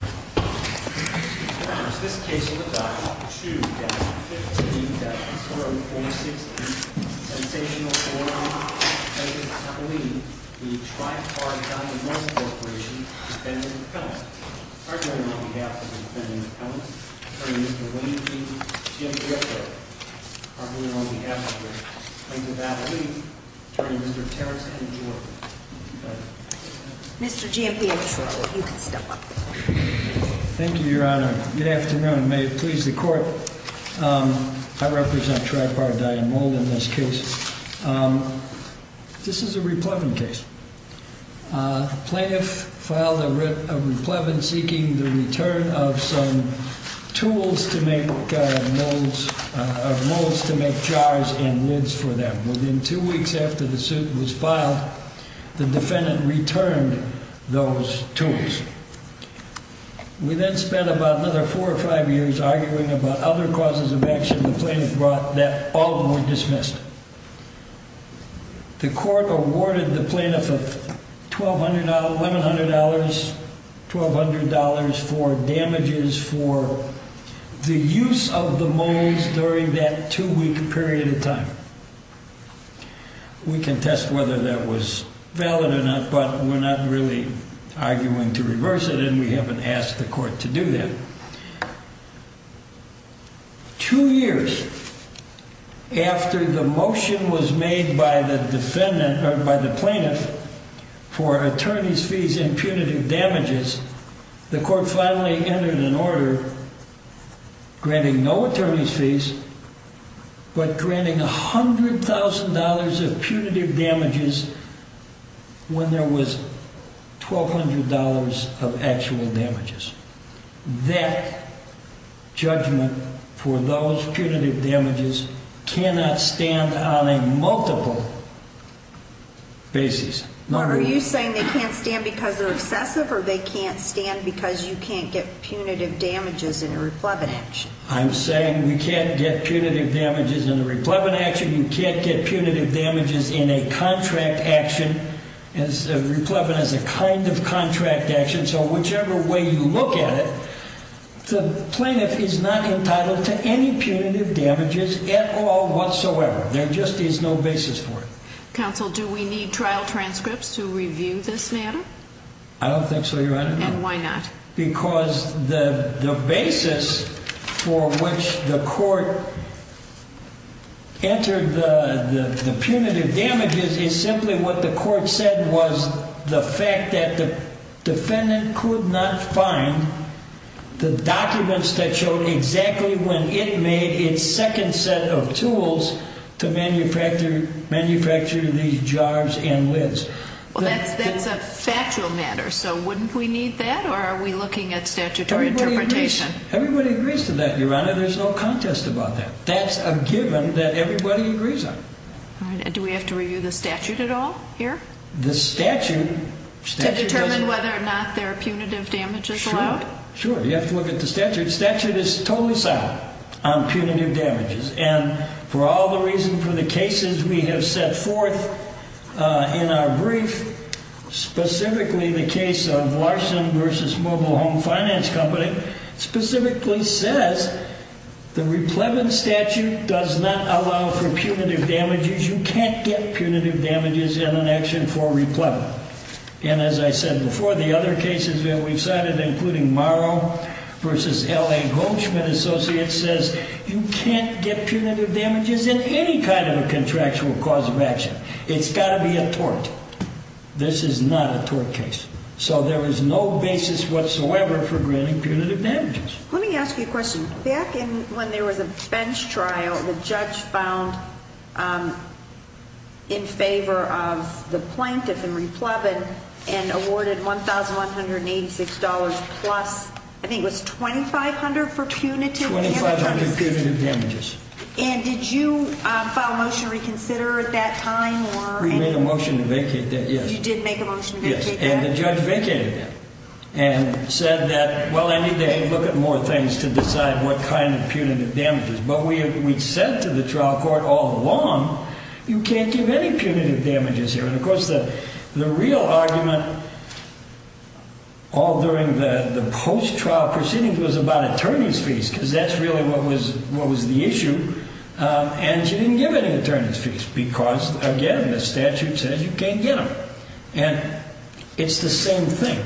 v. Defendant Appellant, arguing on behalf of the Defendant Appellant, Attorney Mr. William G. Giampietro, arguing on behalf of the plaintiff's attorney, Attorney Mr. Terrence M. Jordan. Mr. Giampietro, you can step up. Thank you, Your Honor. Good afternoon. May it please the Court. I represent Tri-Par Die and Mold in this case. This is a replevin case. The plaintiff filed a replevin seeking the return of some tools to make molds, or molds to make jars and lids for them. Within two weeks after the suit was filed, the defendant returned those tools. We then spent about another four or five years arguing about other causes of action the plaintiff brought that all were dismissed. The Court awarded the plaintiff $1,200 for damages for the use of the molds during that two-week period of time. We contest whether that was valid or not, but we're not really arguing to reverse it, and we haven't asked the Court to do that. Two years after the motion was made by the defendant, or by the plaintiff, for attorney's fees and punitive damages, the Court finally entered an order granting no attorney's fees, but granting $100,000 of punitive damages when there was $1,200 of actual damages. That judgment for those punitive damages cannot stand on a multiple basis. Are you saying they can't stand because they're excessive, or they can't stand because you can't get punitive damages in a replevin action? I'm saying you can't get punitive damages in a replevin action. You can't get punitive damages in a contract action. Replevin is a kind of contract action, so whichever way you look at it, the plaintiff is not entitled to any punitive damages at all whatsoever. There just is no basis for it. Counsel, do we need trial transcripts to review this matter? I don't think so, Your Honor. And why not? Because the basis for which the Court entered the punitive damages is simply what the Court said was the fact that the defendant could not find the documents that showed exactly when it made its second set of tools to manufacture these jars and lids. That's a factual matter, so wouldn't we need that, or are we looking at statutory interpretation? Everybody agrees to that, Your Honor. There's no contest about that. That's a given that everybody agrees on. Do we have to review the statute at all here? The statute... To determine whether or not there are punitive damages allowed? Sure, you have to look at the statute. The statute is totally solid on punitive damages, and for all the reasons for the cases we have set forth in our brief, specifically the case of Larson v. Mobile Home Finance Company, specifically says the Replevin statute does not allow for punitive damages. You can't get punitive damages in an action for Replevin. And as I said before, the other cases that we've cited, including Morrow v. L.A. Goldschmidt Associates, says you can't get punitive damages in any kind of a contractual cause of action. It's got to be a tort. This is not a tort case. So there is no basis whatsoever for granting punitive damages. Let me ask you a question. Back when there was a bench trial, the judge found in favor of the plaintiff in Replevin and awarded $1,186 plus, I think it was $2,500 for punitive damages? $2,500 for punitive damages. And did you file a motion to reconsider at that time? We made a motion to vacate that, yes. You did make a motion to vacate that? Yes, and the judge vacated that and said that, well, I need to look at more things to decide what kind of punitive damages. But we said to the trial court all along, you can't give any punitive damages here. And, of course, the real argument all during the post-trial proceedings was about attorney's fees because that's really what was the issue. And she didn't give any attorney's fees because, again, the statute says you can't get them. And it's the same thing.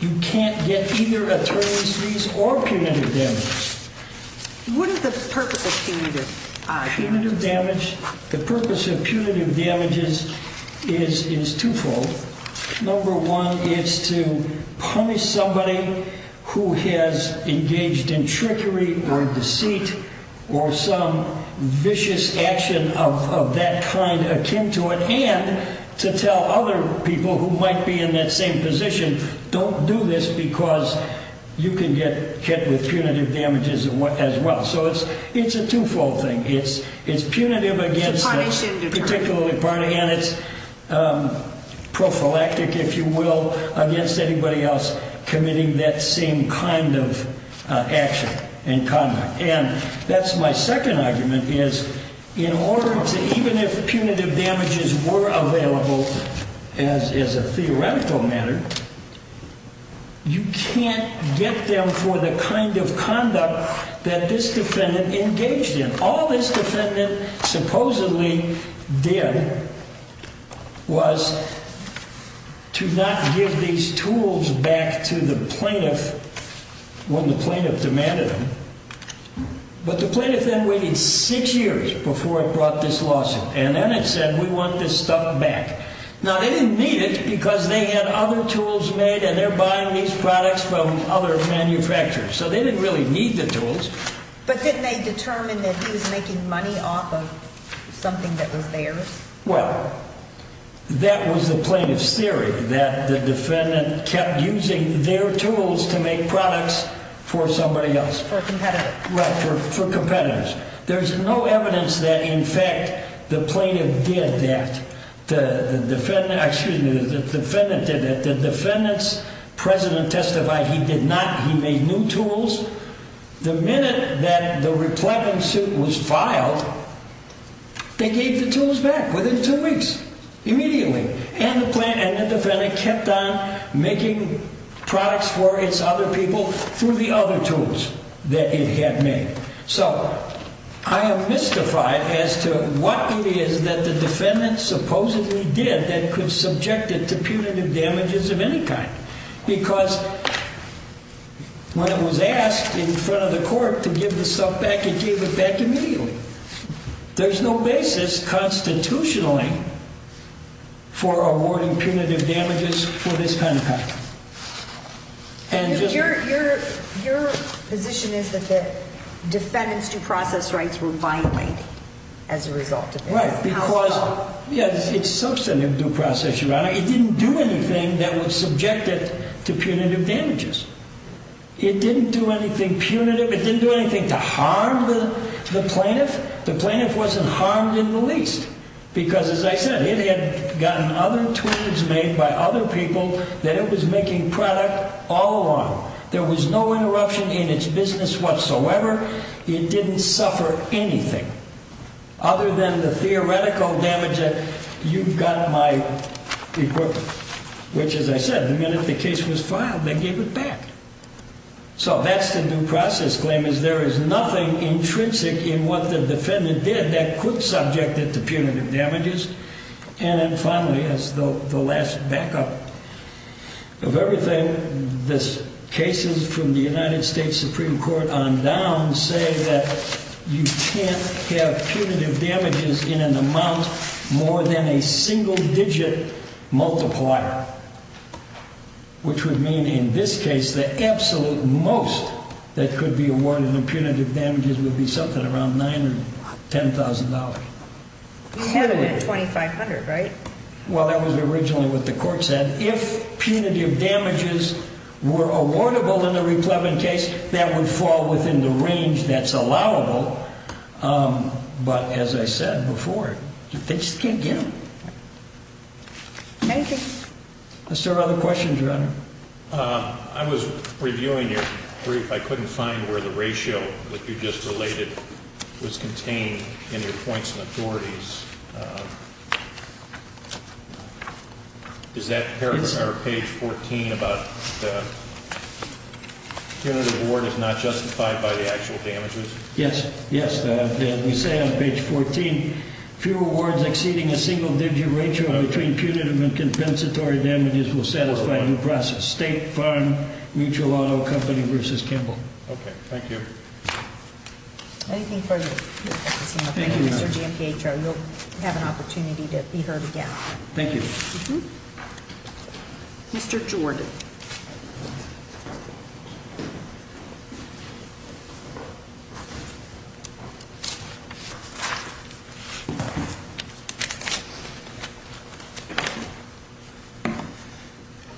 You can't get either attorney's fees or punitive damages. What is the purpose of punitive? Punitive damage, the purpose of punitive damages is twofold. Number one, it's to punish somebody who has engaged in trickery or deceit or some vicious action of that kind akin to it, and to tell other people who might be in that same position, don't do this because you can get hit with punitive damages as well. So it's a twofold thing. It's punitive against the particular party, and it's prophylactic, if you will, against anybody else committing that same kind of action and conduct. And that's my second argument, is in order to even if punitive damages were available as a theoretical matter, you can't get them for the kind of conduct that this defendant engaged in. All this defendant supposedly did was to not give these tools back to the plaintiff when the plaintiff demanded them. But the plaintiff then waited six years before it brought this lawsuit, and then it said we want this stuff back. Now, they didn't need it because they had other tools made, and they're buying these products from other manufacturers. So they didn't really need the tools. But didn't they determine that he was making money off of something that was theirs? Well, that was the plaintiff's theory, that the defendant kept using their tools to make products for somebody else. For a competitor. Right, for competitors. There's no evidence that, in fact, the plaintiff did that. The defendant did it. The defendant's president testified he did not. He made new tools. The minute that the replenishment suit was filed, they gave the tools back within two weeks. Immediately. And the defendant kept on making products for its other people through the other tools that it had made. So I am mystified as to what it is that the defendant supposedly did that could subject it to punitive damages of any kind. Because when it was asked in front of the court to give the stuff back, it gave it back immediately. There's no basis constitutionally for awarding punitive damages for this kind of company. Your position is that the defendant's due process rights were violated as a result of this. Right, because it's substantive due process, Your Honor. It didn't do anything that would subject it to punitive damages. It didn't do anything punitive. It didn't do anything to harm the plaintiff. The plaintiff wasn't harmed in the least. Because, as I said, it had gotten other tools made by other people that it was making product all along. There was no interruption in its business whatsoever. It didn't suffer anything. Other than the theoretical damage that you've got my equipment. Which, as I said, the minute the case was filed, they gave it back. So that's the due process claim is there is nothing intrinsic in what the defendant did that could subject it to punitive damages. And then finally, as the last backup of everything, the cases from the United States Supreme Court on down say that you can't have punitive damages in an amount more than a single digit multiplier. Which would mean in this case the absolute most that could be awarded in punitive damages would be something around $9,000 or $10,000. $2,500, right? Well, that was originally what the court said. If punitive damages were awardable in the reclaiming case, that would fall within the range that's allowable. But as I said before, they just can't get them. Is there other questions, Your Honor? I was reviewing your brief. I couldn't find where the ratio that you just related was contained in your points and authorities. Is that paragraph or page 14 about the punitive award is not justified by the actual damages? Yes. Yes. As we say on page 14, few awards exceeding a single digit ratio between punitive and compensatory damages will satisfy the process. State Farm Mutual Auto Company versus Kimball. Okay. Thank you. Anything further? Thank you, Mr. GMPHO. You'll have an opportunity to be heard again. Thank you. Mr. Jordan.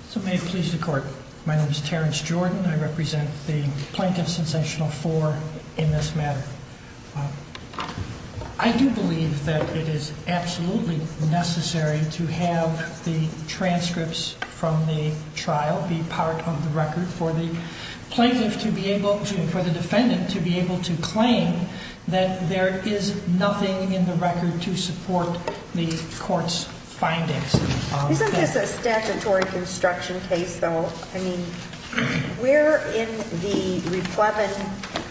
So may it please the court. My name is Terrence Jordan. I represent the Plaintiff Sensational 4 in this matter. I do believe that it is absolutely necessary to have the transcripts from the trial be part of the record for the plaintiff to be able to, for the defendant to be able to claim that there is nothing in the record to support the court's findings. Isn't this a statutory construction case, though? I mean, where in the Replevin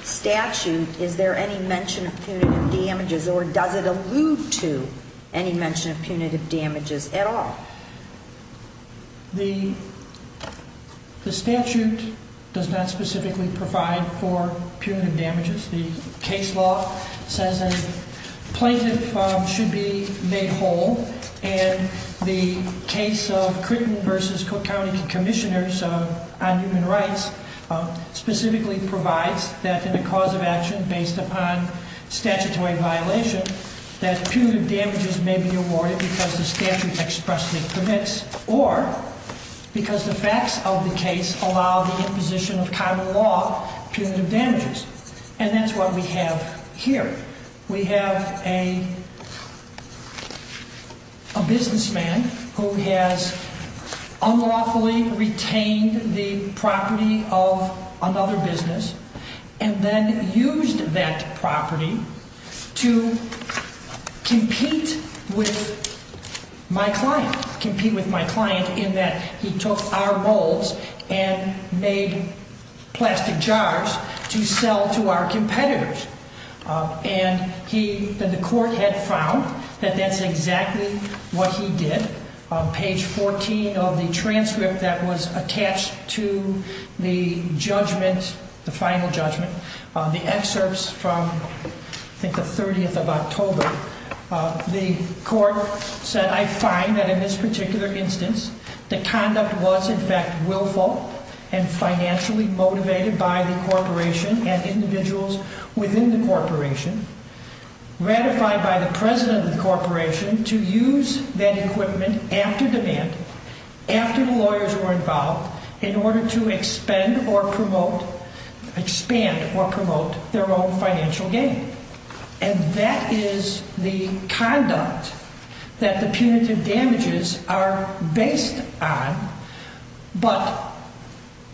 statute is there any mention of punitive damages or does it allude to any mention of punitive damages at all? The statute does not specifically provide for punitive damages. The case law says a plaintiff should be made whole, and the case of Critton versus Cook County Commissioners on Human Rights specifically provides that in a cause of action based upon statutory violation, that punitive damages may be awarded because the statute expressly permits or because the facts of the case allow the imposition of common law punitive damages. And that's what we have here. We have a businessman who has unlawfully retained the property of another business and then used that property to compete with my client. I did not compete with my client in that he took our molds and made plastic jars to sell to our competitors. And he, the court had found that that's exactly what he did. On page 14 of the transcript that was attached to the judgment, the final judgment, the excerpts from I think the 30th of October, the court said, I find that in this particular instance, the conduct was in fact willful and financially motivated by the corporation and individuals within the corporation, ratified by the president of the corporation to use that equipment after demand, after the lawyers were involved, in order to expend or promote, expand or promote their own financial gain. And that is the conduct that the punitive damages are based on, but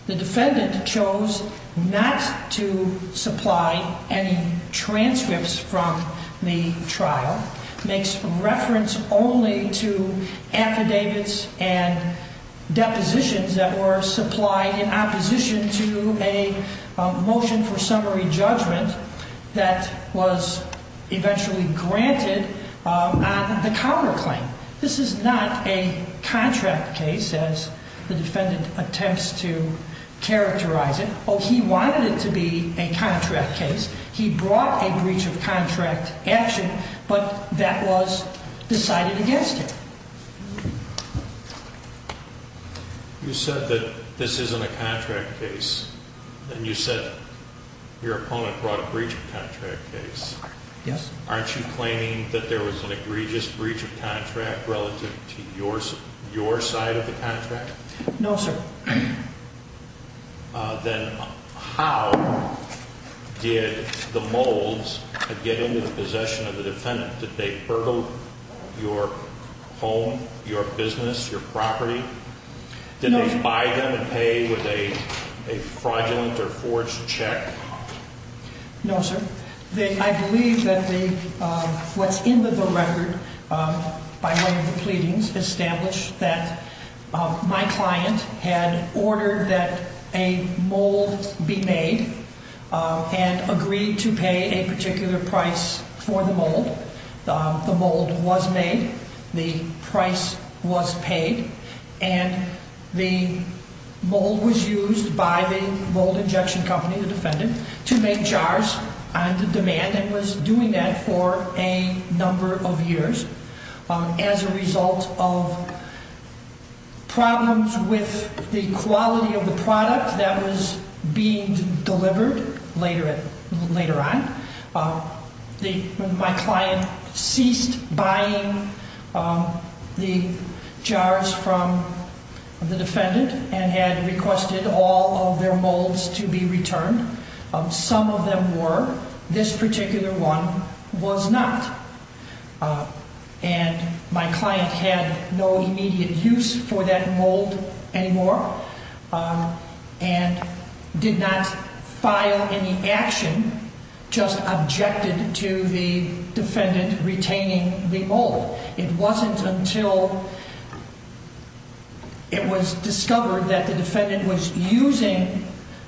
the defendant chose not to supply any transcripts from the trial, makes reference only to affidavits and depositions that were supplied in opposition to a motion for summary judgment that was eventually granted on the counterclaim. This is not a contract case, as the defendant attempts to characterize it. Oh, he wanted it to be a contract case. He brought a breach of contract action, but that was decided against him. You said that this isn't a contract case, and you said your opponent brought a breach of contract case. Yes. Aren't you claiming that there was an egregious breach of contract relative to your side of the contract? No, sir. Then how did the molds get into the possession of the defendant? Did they burgle your home, your business, your property? Did they buy them and pay with a fraudulent or forged check? No, sir. I believe that what's in the record by way of the pleadings established that my client had ordered that a mold be made and agreed to pay a particular price for the mold. The mold was made, the price was paid, and the mold was used by the mold injection company, the defendant, to make jars on demand and was doing that for a number of years as a result of problems with the quality of the product that was being delivered later on. My client ceased buying the jars from the defendant and had requested all of their molds to be returned. Some of them were. This particular one was not. And my client had no immediate use for that mold anymore and did not file any action, just objected to the defendant retaining the mold. It wasn't until it was discovered that the defendant was using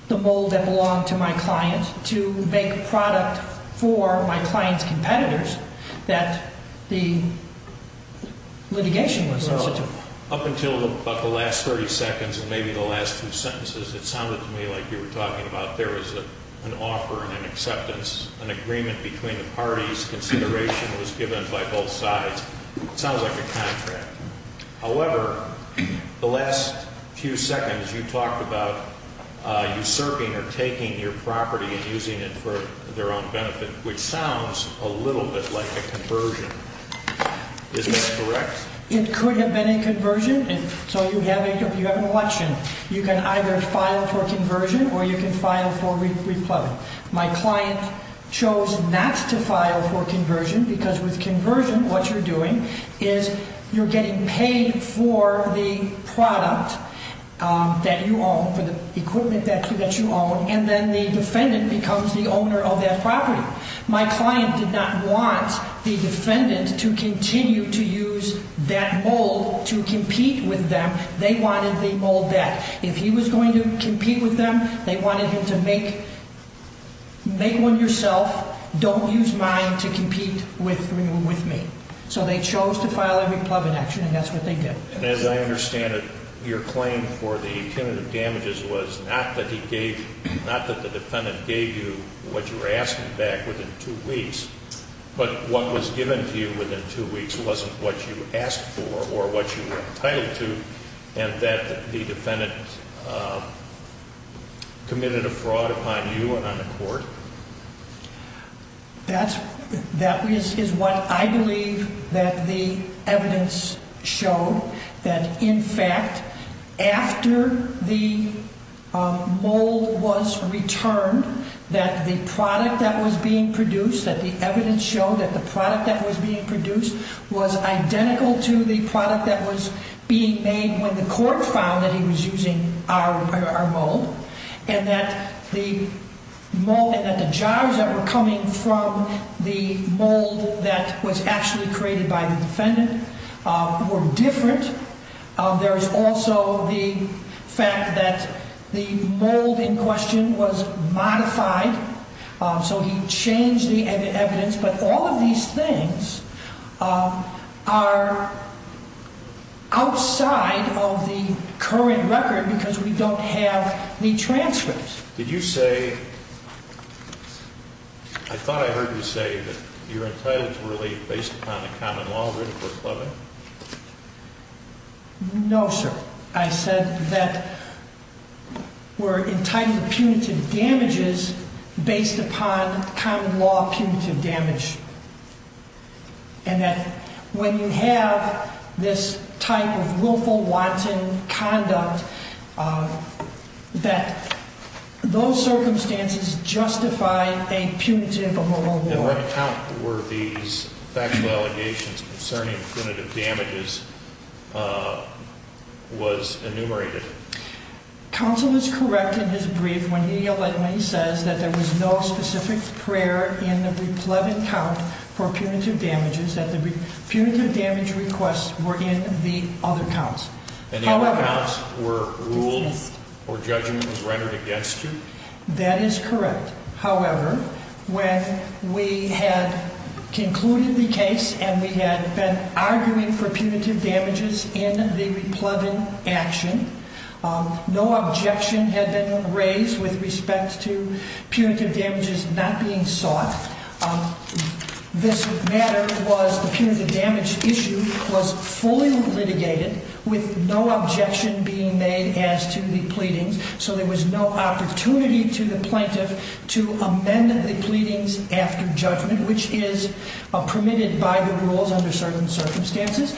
the mold that belonged to my client to make product for my client's competitors that the litigation was instituted. Up until about the last 30 seconds and maybe the last two sentences, it sounded to me like you were talking about there was an offer and an acceptance, an agreement between the parties, consideration was given by both sides. It sounds like a contract. However, the last few seconds you talked about usurping or taking your property and using it for their own benefit, which sounds a little bit like a conversion. Is that correct? It could have been a conversion. So you have an election. You can either file for conversion or you can file for re-plumbing. My client chose not to file for conversion because with conversion what you're doing is you're getting paid for the product that you own, for the equipment that you own, and then the defendant becomes the owner of that property. My client did not want the defendant to continue to use that mold to compete with them. They wanted the old deck. If he was going to compete with them, they wanted him to make one yourself, don't use mine to compete with me. So they chose to file a re-plumbing action, and that's what they did. And as I understand it, your claim for the punitive damages was not that the defendant gave you what you were asking back within two weeks, but what was given to you within two weeks wasn't what you asked for or what you were entitled to, and that the defendant committed a fraud upon you and on the court. That is what I believe that the evidence showed, that in fact, after the mold was returned, that the product that was being produced, that the evidence showed that the product that was being produced was identical to the product that was being made when the court found that he was using our mold, and that the jars that were coming from the mold that was actually created by the defendant were different. There is also the fact that the mold in question was modified, so he changed the evidence, but all of these things are outside of the current record because we don't have the transcripts. Did you say, I thought I heard you say that you're entitled to relief based upon the common law of re-plumbing? No, sir. I said that we're entitled to punitive damages based upon common law punitive damage, and that when you have this type of willful, wanton conduct, that those circumstances justify a punitive award. And what count were these factual allegations concerning punitive damages was enumerated? Counsel is correct in his brief when he says that there was no specific prayer in the re-plumbing count for punitive damages, that the punitive damage requests were in the other counts. And the other counts were ruled or judgment was rendered against you? That is correct. However, when we had concluded the case and we had been arguing for punitive damages in the re-plumbing action, no objection had been raised with respect to punitive damages not being sought. This matter was, the punitive damage issue was fully litigated with no objection being made as to the pleadings, so there was no opportunity to the plaintiff to amend the pleadings after judgment, which is permitted by the rules under certain circumstances.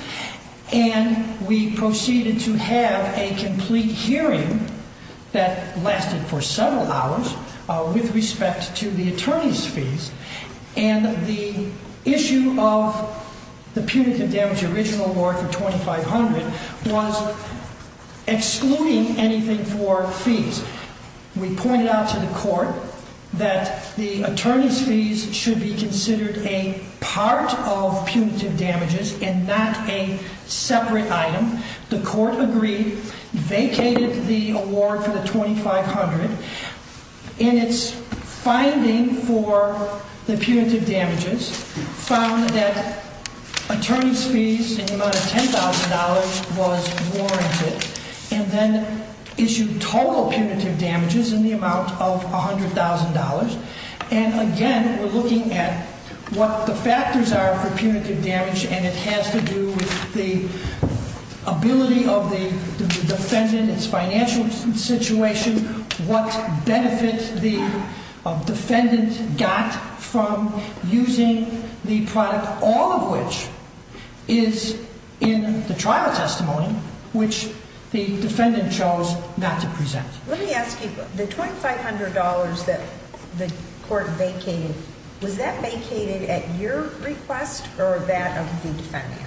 And we proceeded to have a complete hearing that lasted for several hours with respect to the attorney's fees, and the issue of the punitive damage original award for $2,500 was excluding anything for fees. We pointed out to the court that the attorney's fees should be considered a part of punitive damages and not a separate item. The court agreed, vacated the award for the $2,500, and its finding for the punitive damages found that attorney's fees in the amount of $10,000 was warranted. And then issued total punitive damages in the amount of $100,000. And again, we're looking at what the factors are for punitive damage, and it has to do with the ability of the defendant, its financial situation, what benefit the defendant got from using the product, all of which is in the trial testimony, which the defendant chose not to present. Let me ask you, the $2,500 that the court vacated, was that vacated at your request or that of the defendant?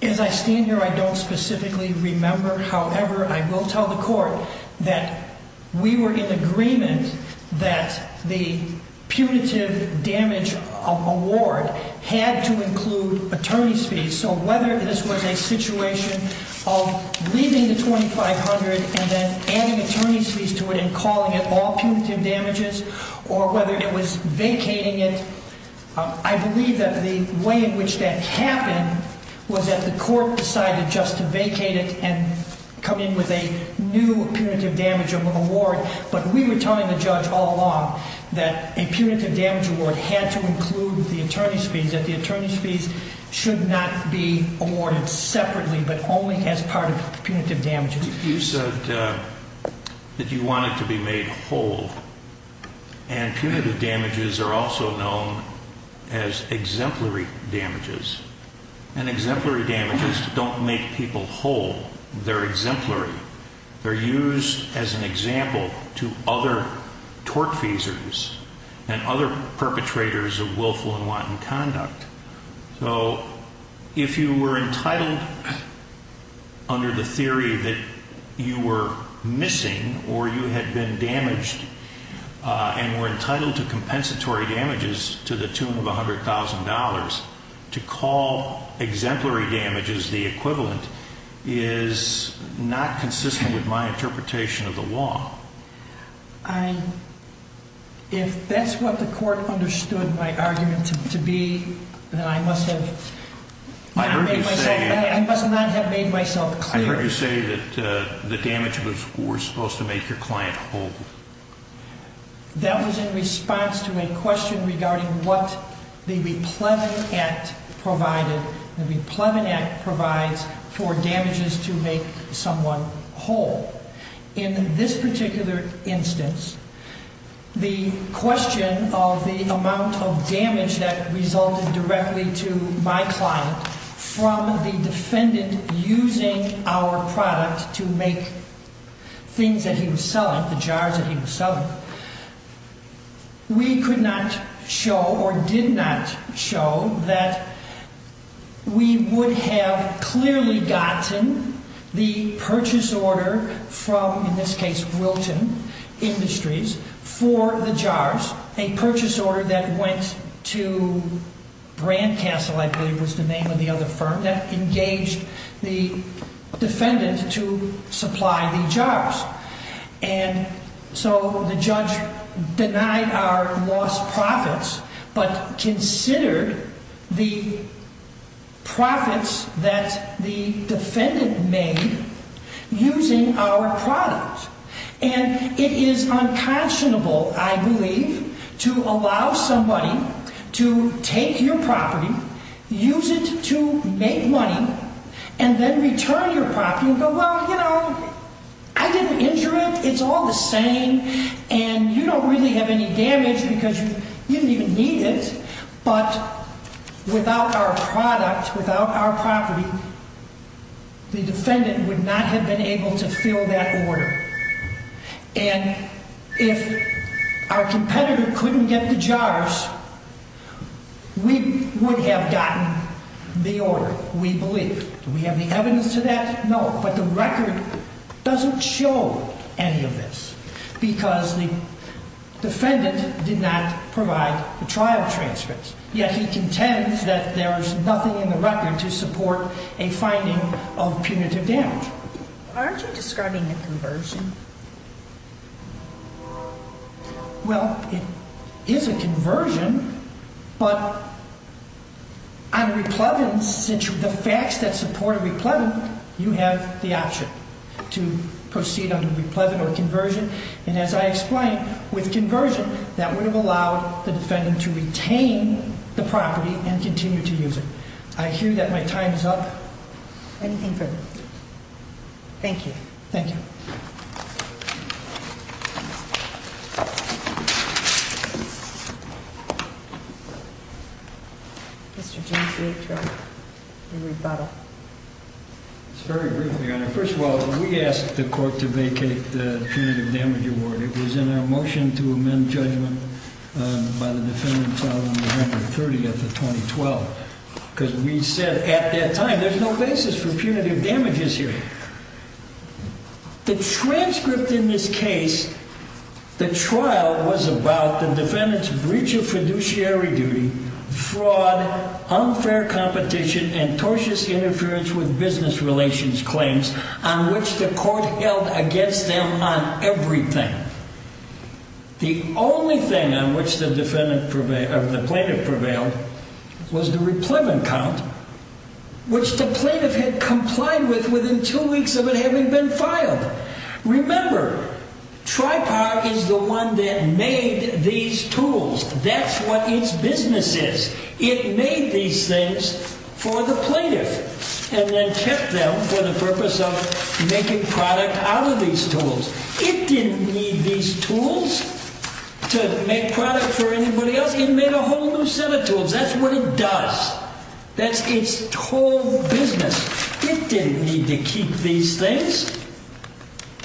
As I stand here, I don't specifically remember. However, I will tell the court that we were in agreement that the punitive damage award had to include attorney's fees. So whether this was a situation of leaving the $2,500 and then adding attorney's fees to it and calling it all punitive damages, or whether it was vacating it, I believe that the way in which that happened was that the court decided just to vacate it and come in with a new punitive damage award. But we were telling the judge all along that a punitive damage award had to include the attorney's fees, that the attorney's fees should not be awarded separately, but only as part of punitive damages. You said that you wanted to be made whole, and punitive damages are also known as exemplary damages. And exemplary damages don't make people whole. They're exemplary. They're used as an example to other tortfeasors and other perpetrators of willful and wanton conduct. So if you were entitled under the theory that you were missing or you had been damaged and were entitled to compensatory damages to the tune of $100,000, to call exemplary damages the equivalent is not consistent with my interpretation of the law. If that's what the court understood my argument to be, then I must not have made myself clear. I heard you say that the damage was supposed to make your client whole. That was in response to a question regarding what the Replevin Act provides for damages to make someone whole. In this particular instance, the question of the amount of damage that resulted directly to my client from the defendant using our product to make things that he was selling, the jars that he was selling, we could not show or did not show that we would have clearly gotten the purchase order from, in this case, Wilton Industries for the jars, a purchase order that went to Brandcastle, I believe was the name of the other firm, that engaged the defendant to supply the jars. And so the judge denied our lost profits but considered the profits that the defendant made using our product. And it is unconscionable, I believe, to allow somebody to take your property, use it to make money, and then return your property and go, well, you know, I didn't injure it, it's all the same, and you don't really have any damage because you didn't even need it. But without our product, without our property, the defendant would not have been able to fill that order. And if our competitor couldn't get the jars, we would have gotten the order, we believe. So we have the evidence to that? No. But the record doesn't show any of this because the defendant did not provide the trial transcripts, yet he contends that there's nothing in the record to support a finding of punitive damage. Aren't you describing a conversion? Well, it is a conversion, but on replevin, since the facts that support replevin, you have the option to proceed under replevin or conversion. And as I explained, with conversion, that would have allowed the defendant to retain the property and continue to use it. I hear that my time is up. Anything further? Thank you. Thank you. Mr. James A. Trey, your rebuttal. It's very briefly, Your Honor. First of all, we asked the court to vacate the punitive damage award. It was in our motion to amend judgment by the defendant filed on November 30th of 2012 because we said at that time, there's no basis for punitive damages here. The transcript in this case, the trial was about the defendant's breach of fiduciary duty, fraud, unfair competition, and tortious interference with business relations claims on which the court held against them on everything. The only thing on which the plaintiff prevailed was the replevin count, which the plaintiff had complied with within two weeks of it having been filed. Remember, TRIPAR is the one that made these tools. That's what its business is. It made these things for the plaintiff and then kept them for the purpose of making product out of these tools. It didn't need these tools to make product for anybody else. It made a whole new set of tools. That's what it does. That's its whole business. It didn't need to keep these things.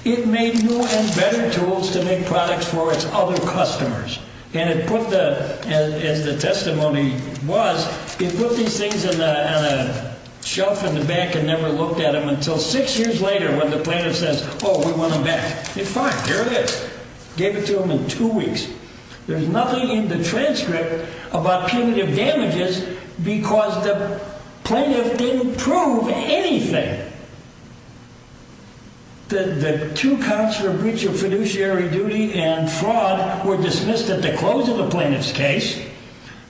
It made new and better tools to make products for its other customers. As the testimony was, it put these things on a shelf in the back and never looked at them until six years later when the plaintiff says, oh, we want them back. It's fine. Here it is. Gave it to them in two weeks. There's nothing in the transcript about punitive damages because the plaintiff didn't prove anything. The two counts for breach of fiduciary duty and fraud were dismissed at the close of the plaintiff's case.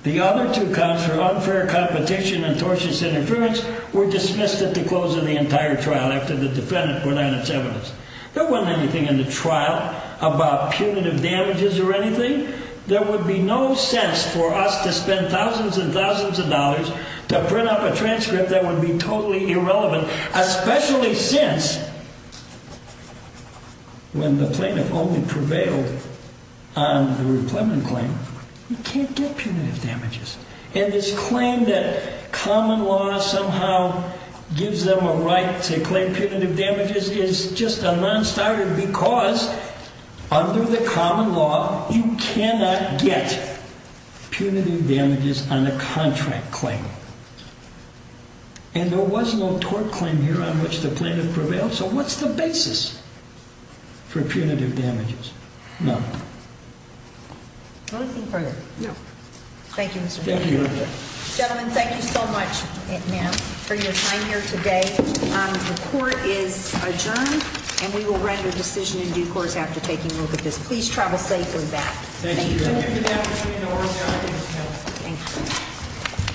The other two counts for unfair competition and tortious interference were dismissed at the close of the entire trial after the defendant put out its evidence. There wasn't anything in the trial about punitive damages or anything. There would be no sense for us to spend thousands and thousands of dollars to print up a transcript that would be totally irrelevant, especially since when the plaintiff only prevailed on the reclaiming claim, you can't get punitive damages. And this claim that common law somehow gives them a right to claim punitive damages is just a non-starter because under the common law, you cannot get punitive damages on a contract claim. And there was no tort claim here on which the plaintiff prevailed, so what's the basis for punitive damages? None. Anything further? No. Thank you, Mr. Chairman. Thank you. Gentlemen, thank you so much, ma'am, for your time here today. The court is adjourned, and we will render decision in due course after taking a look at this. Please travel safely back. Thank you. Thank you.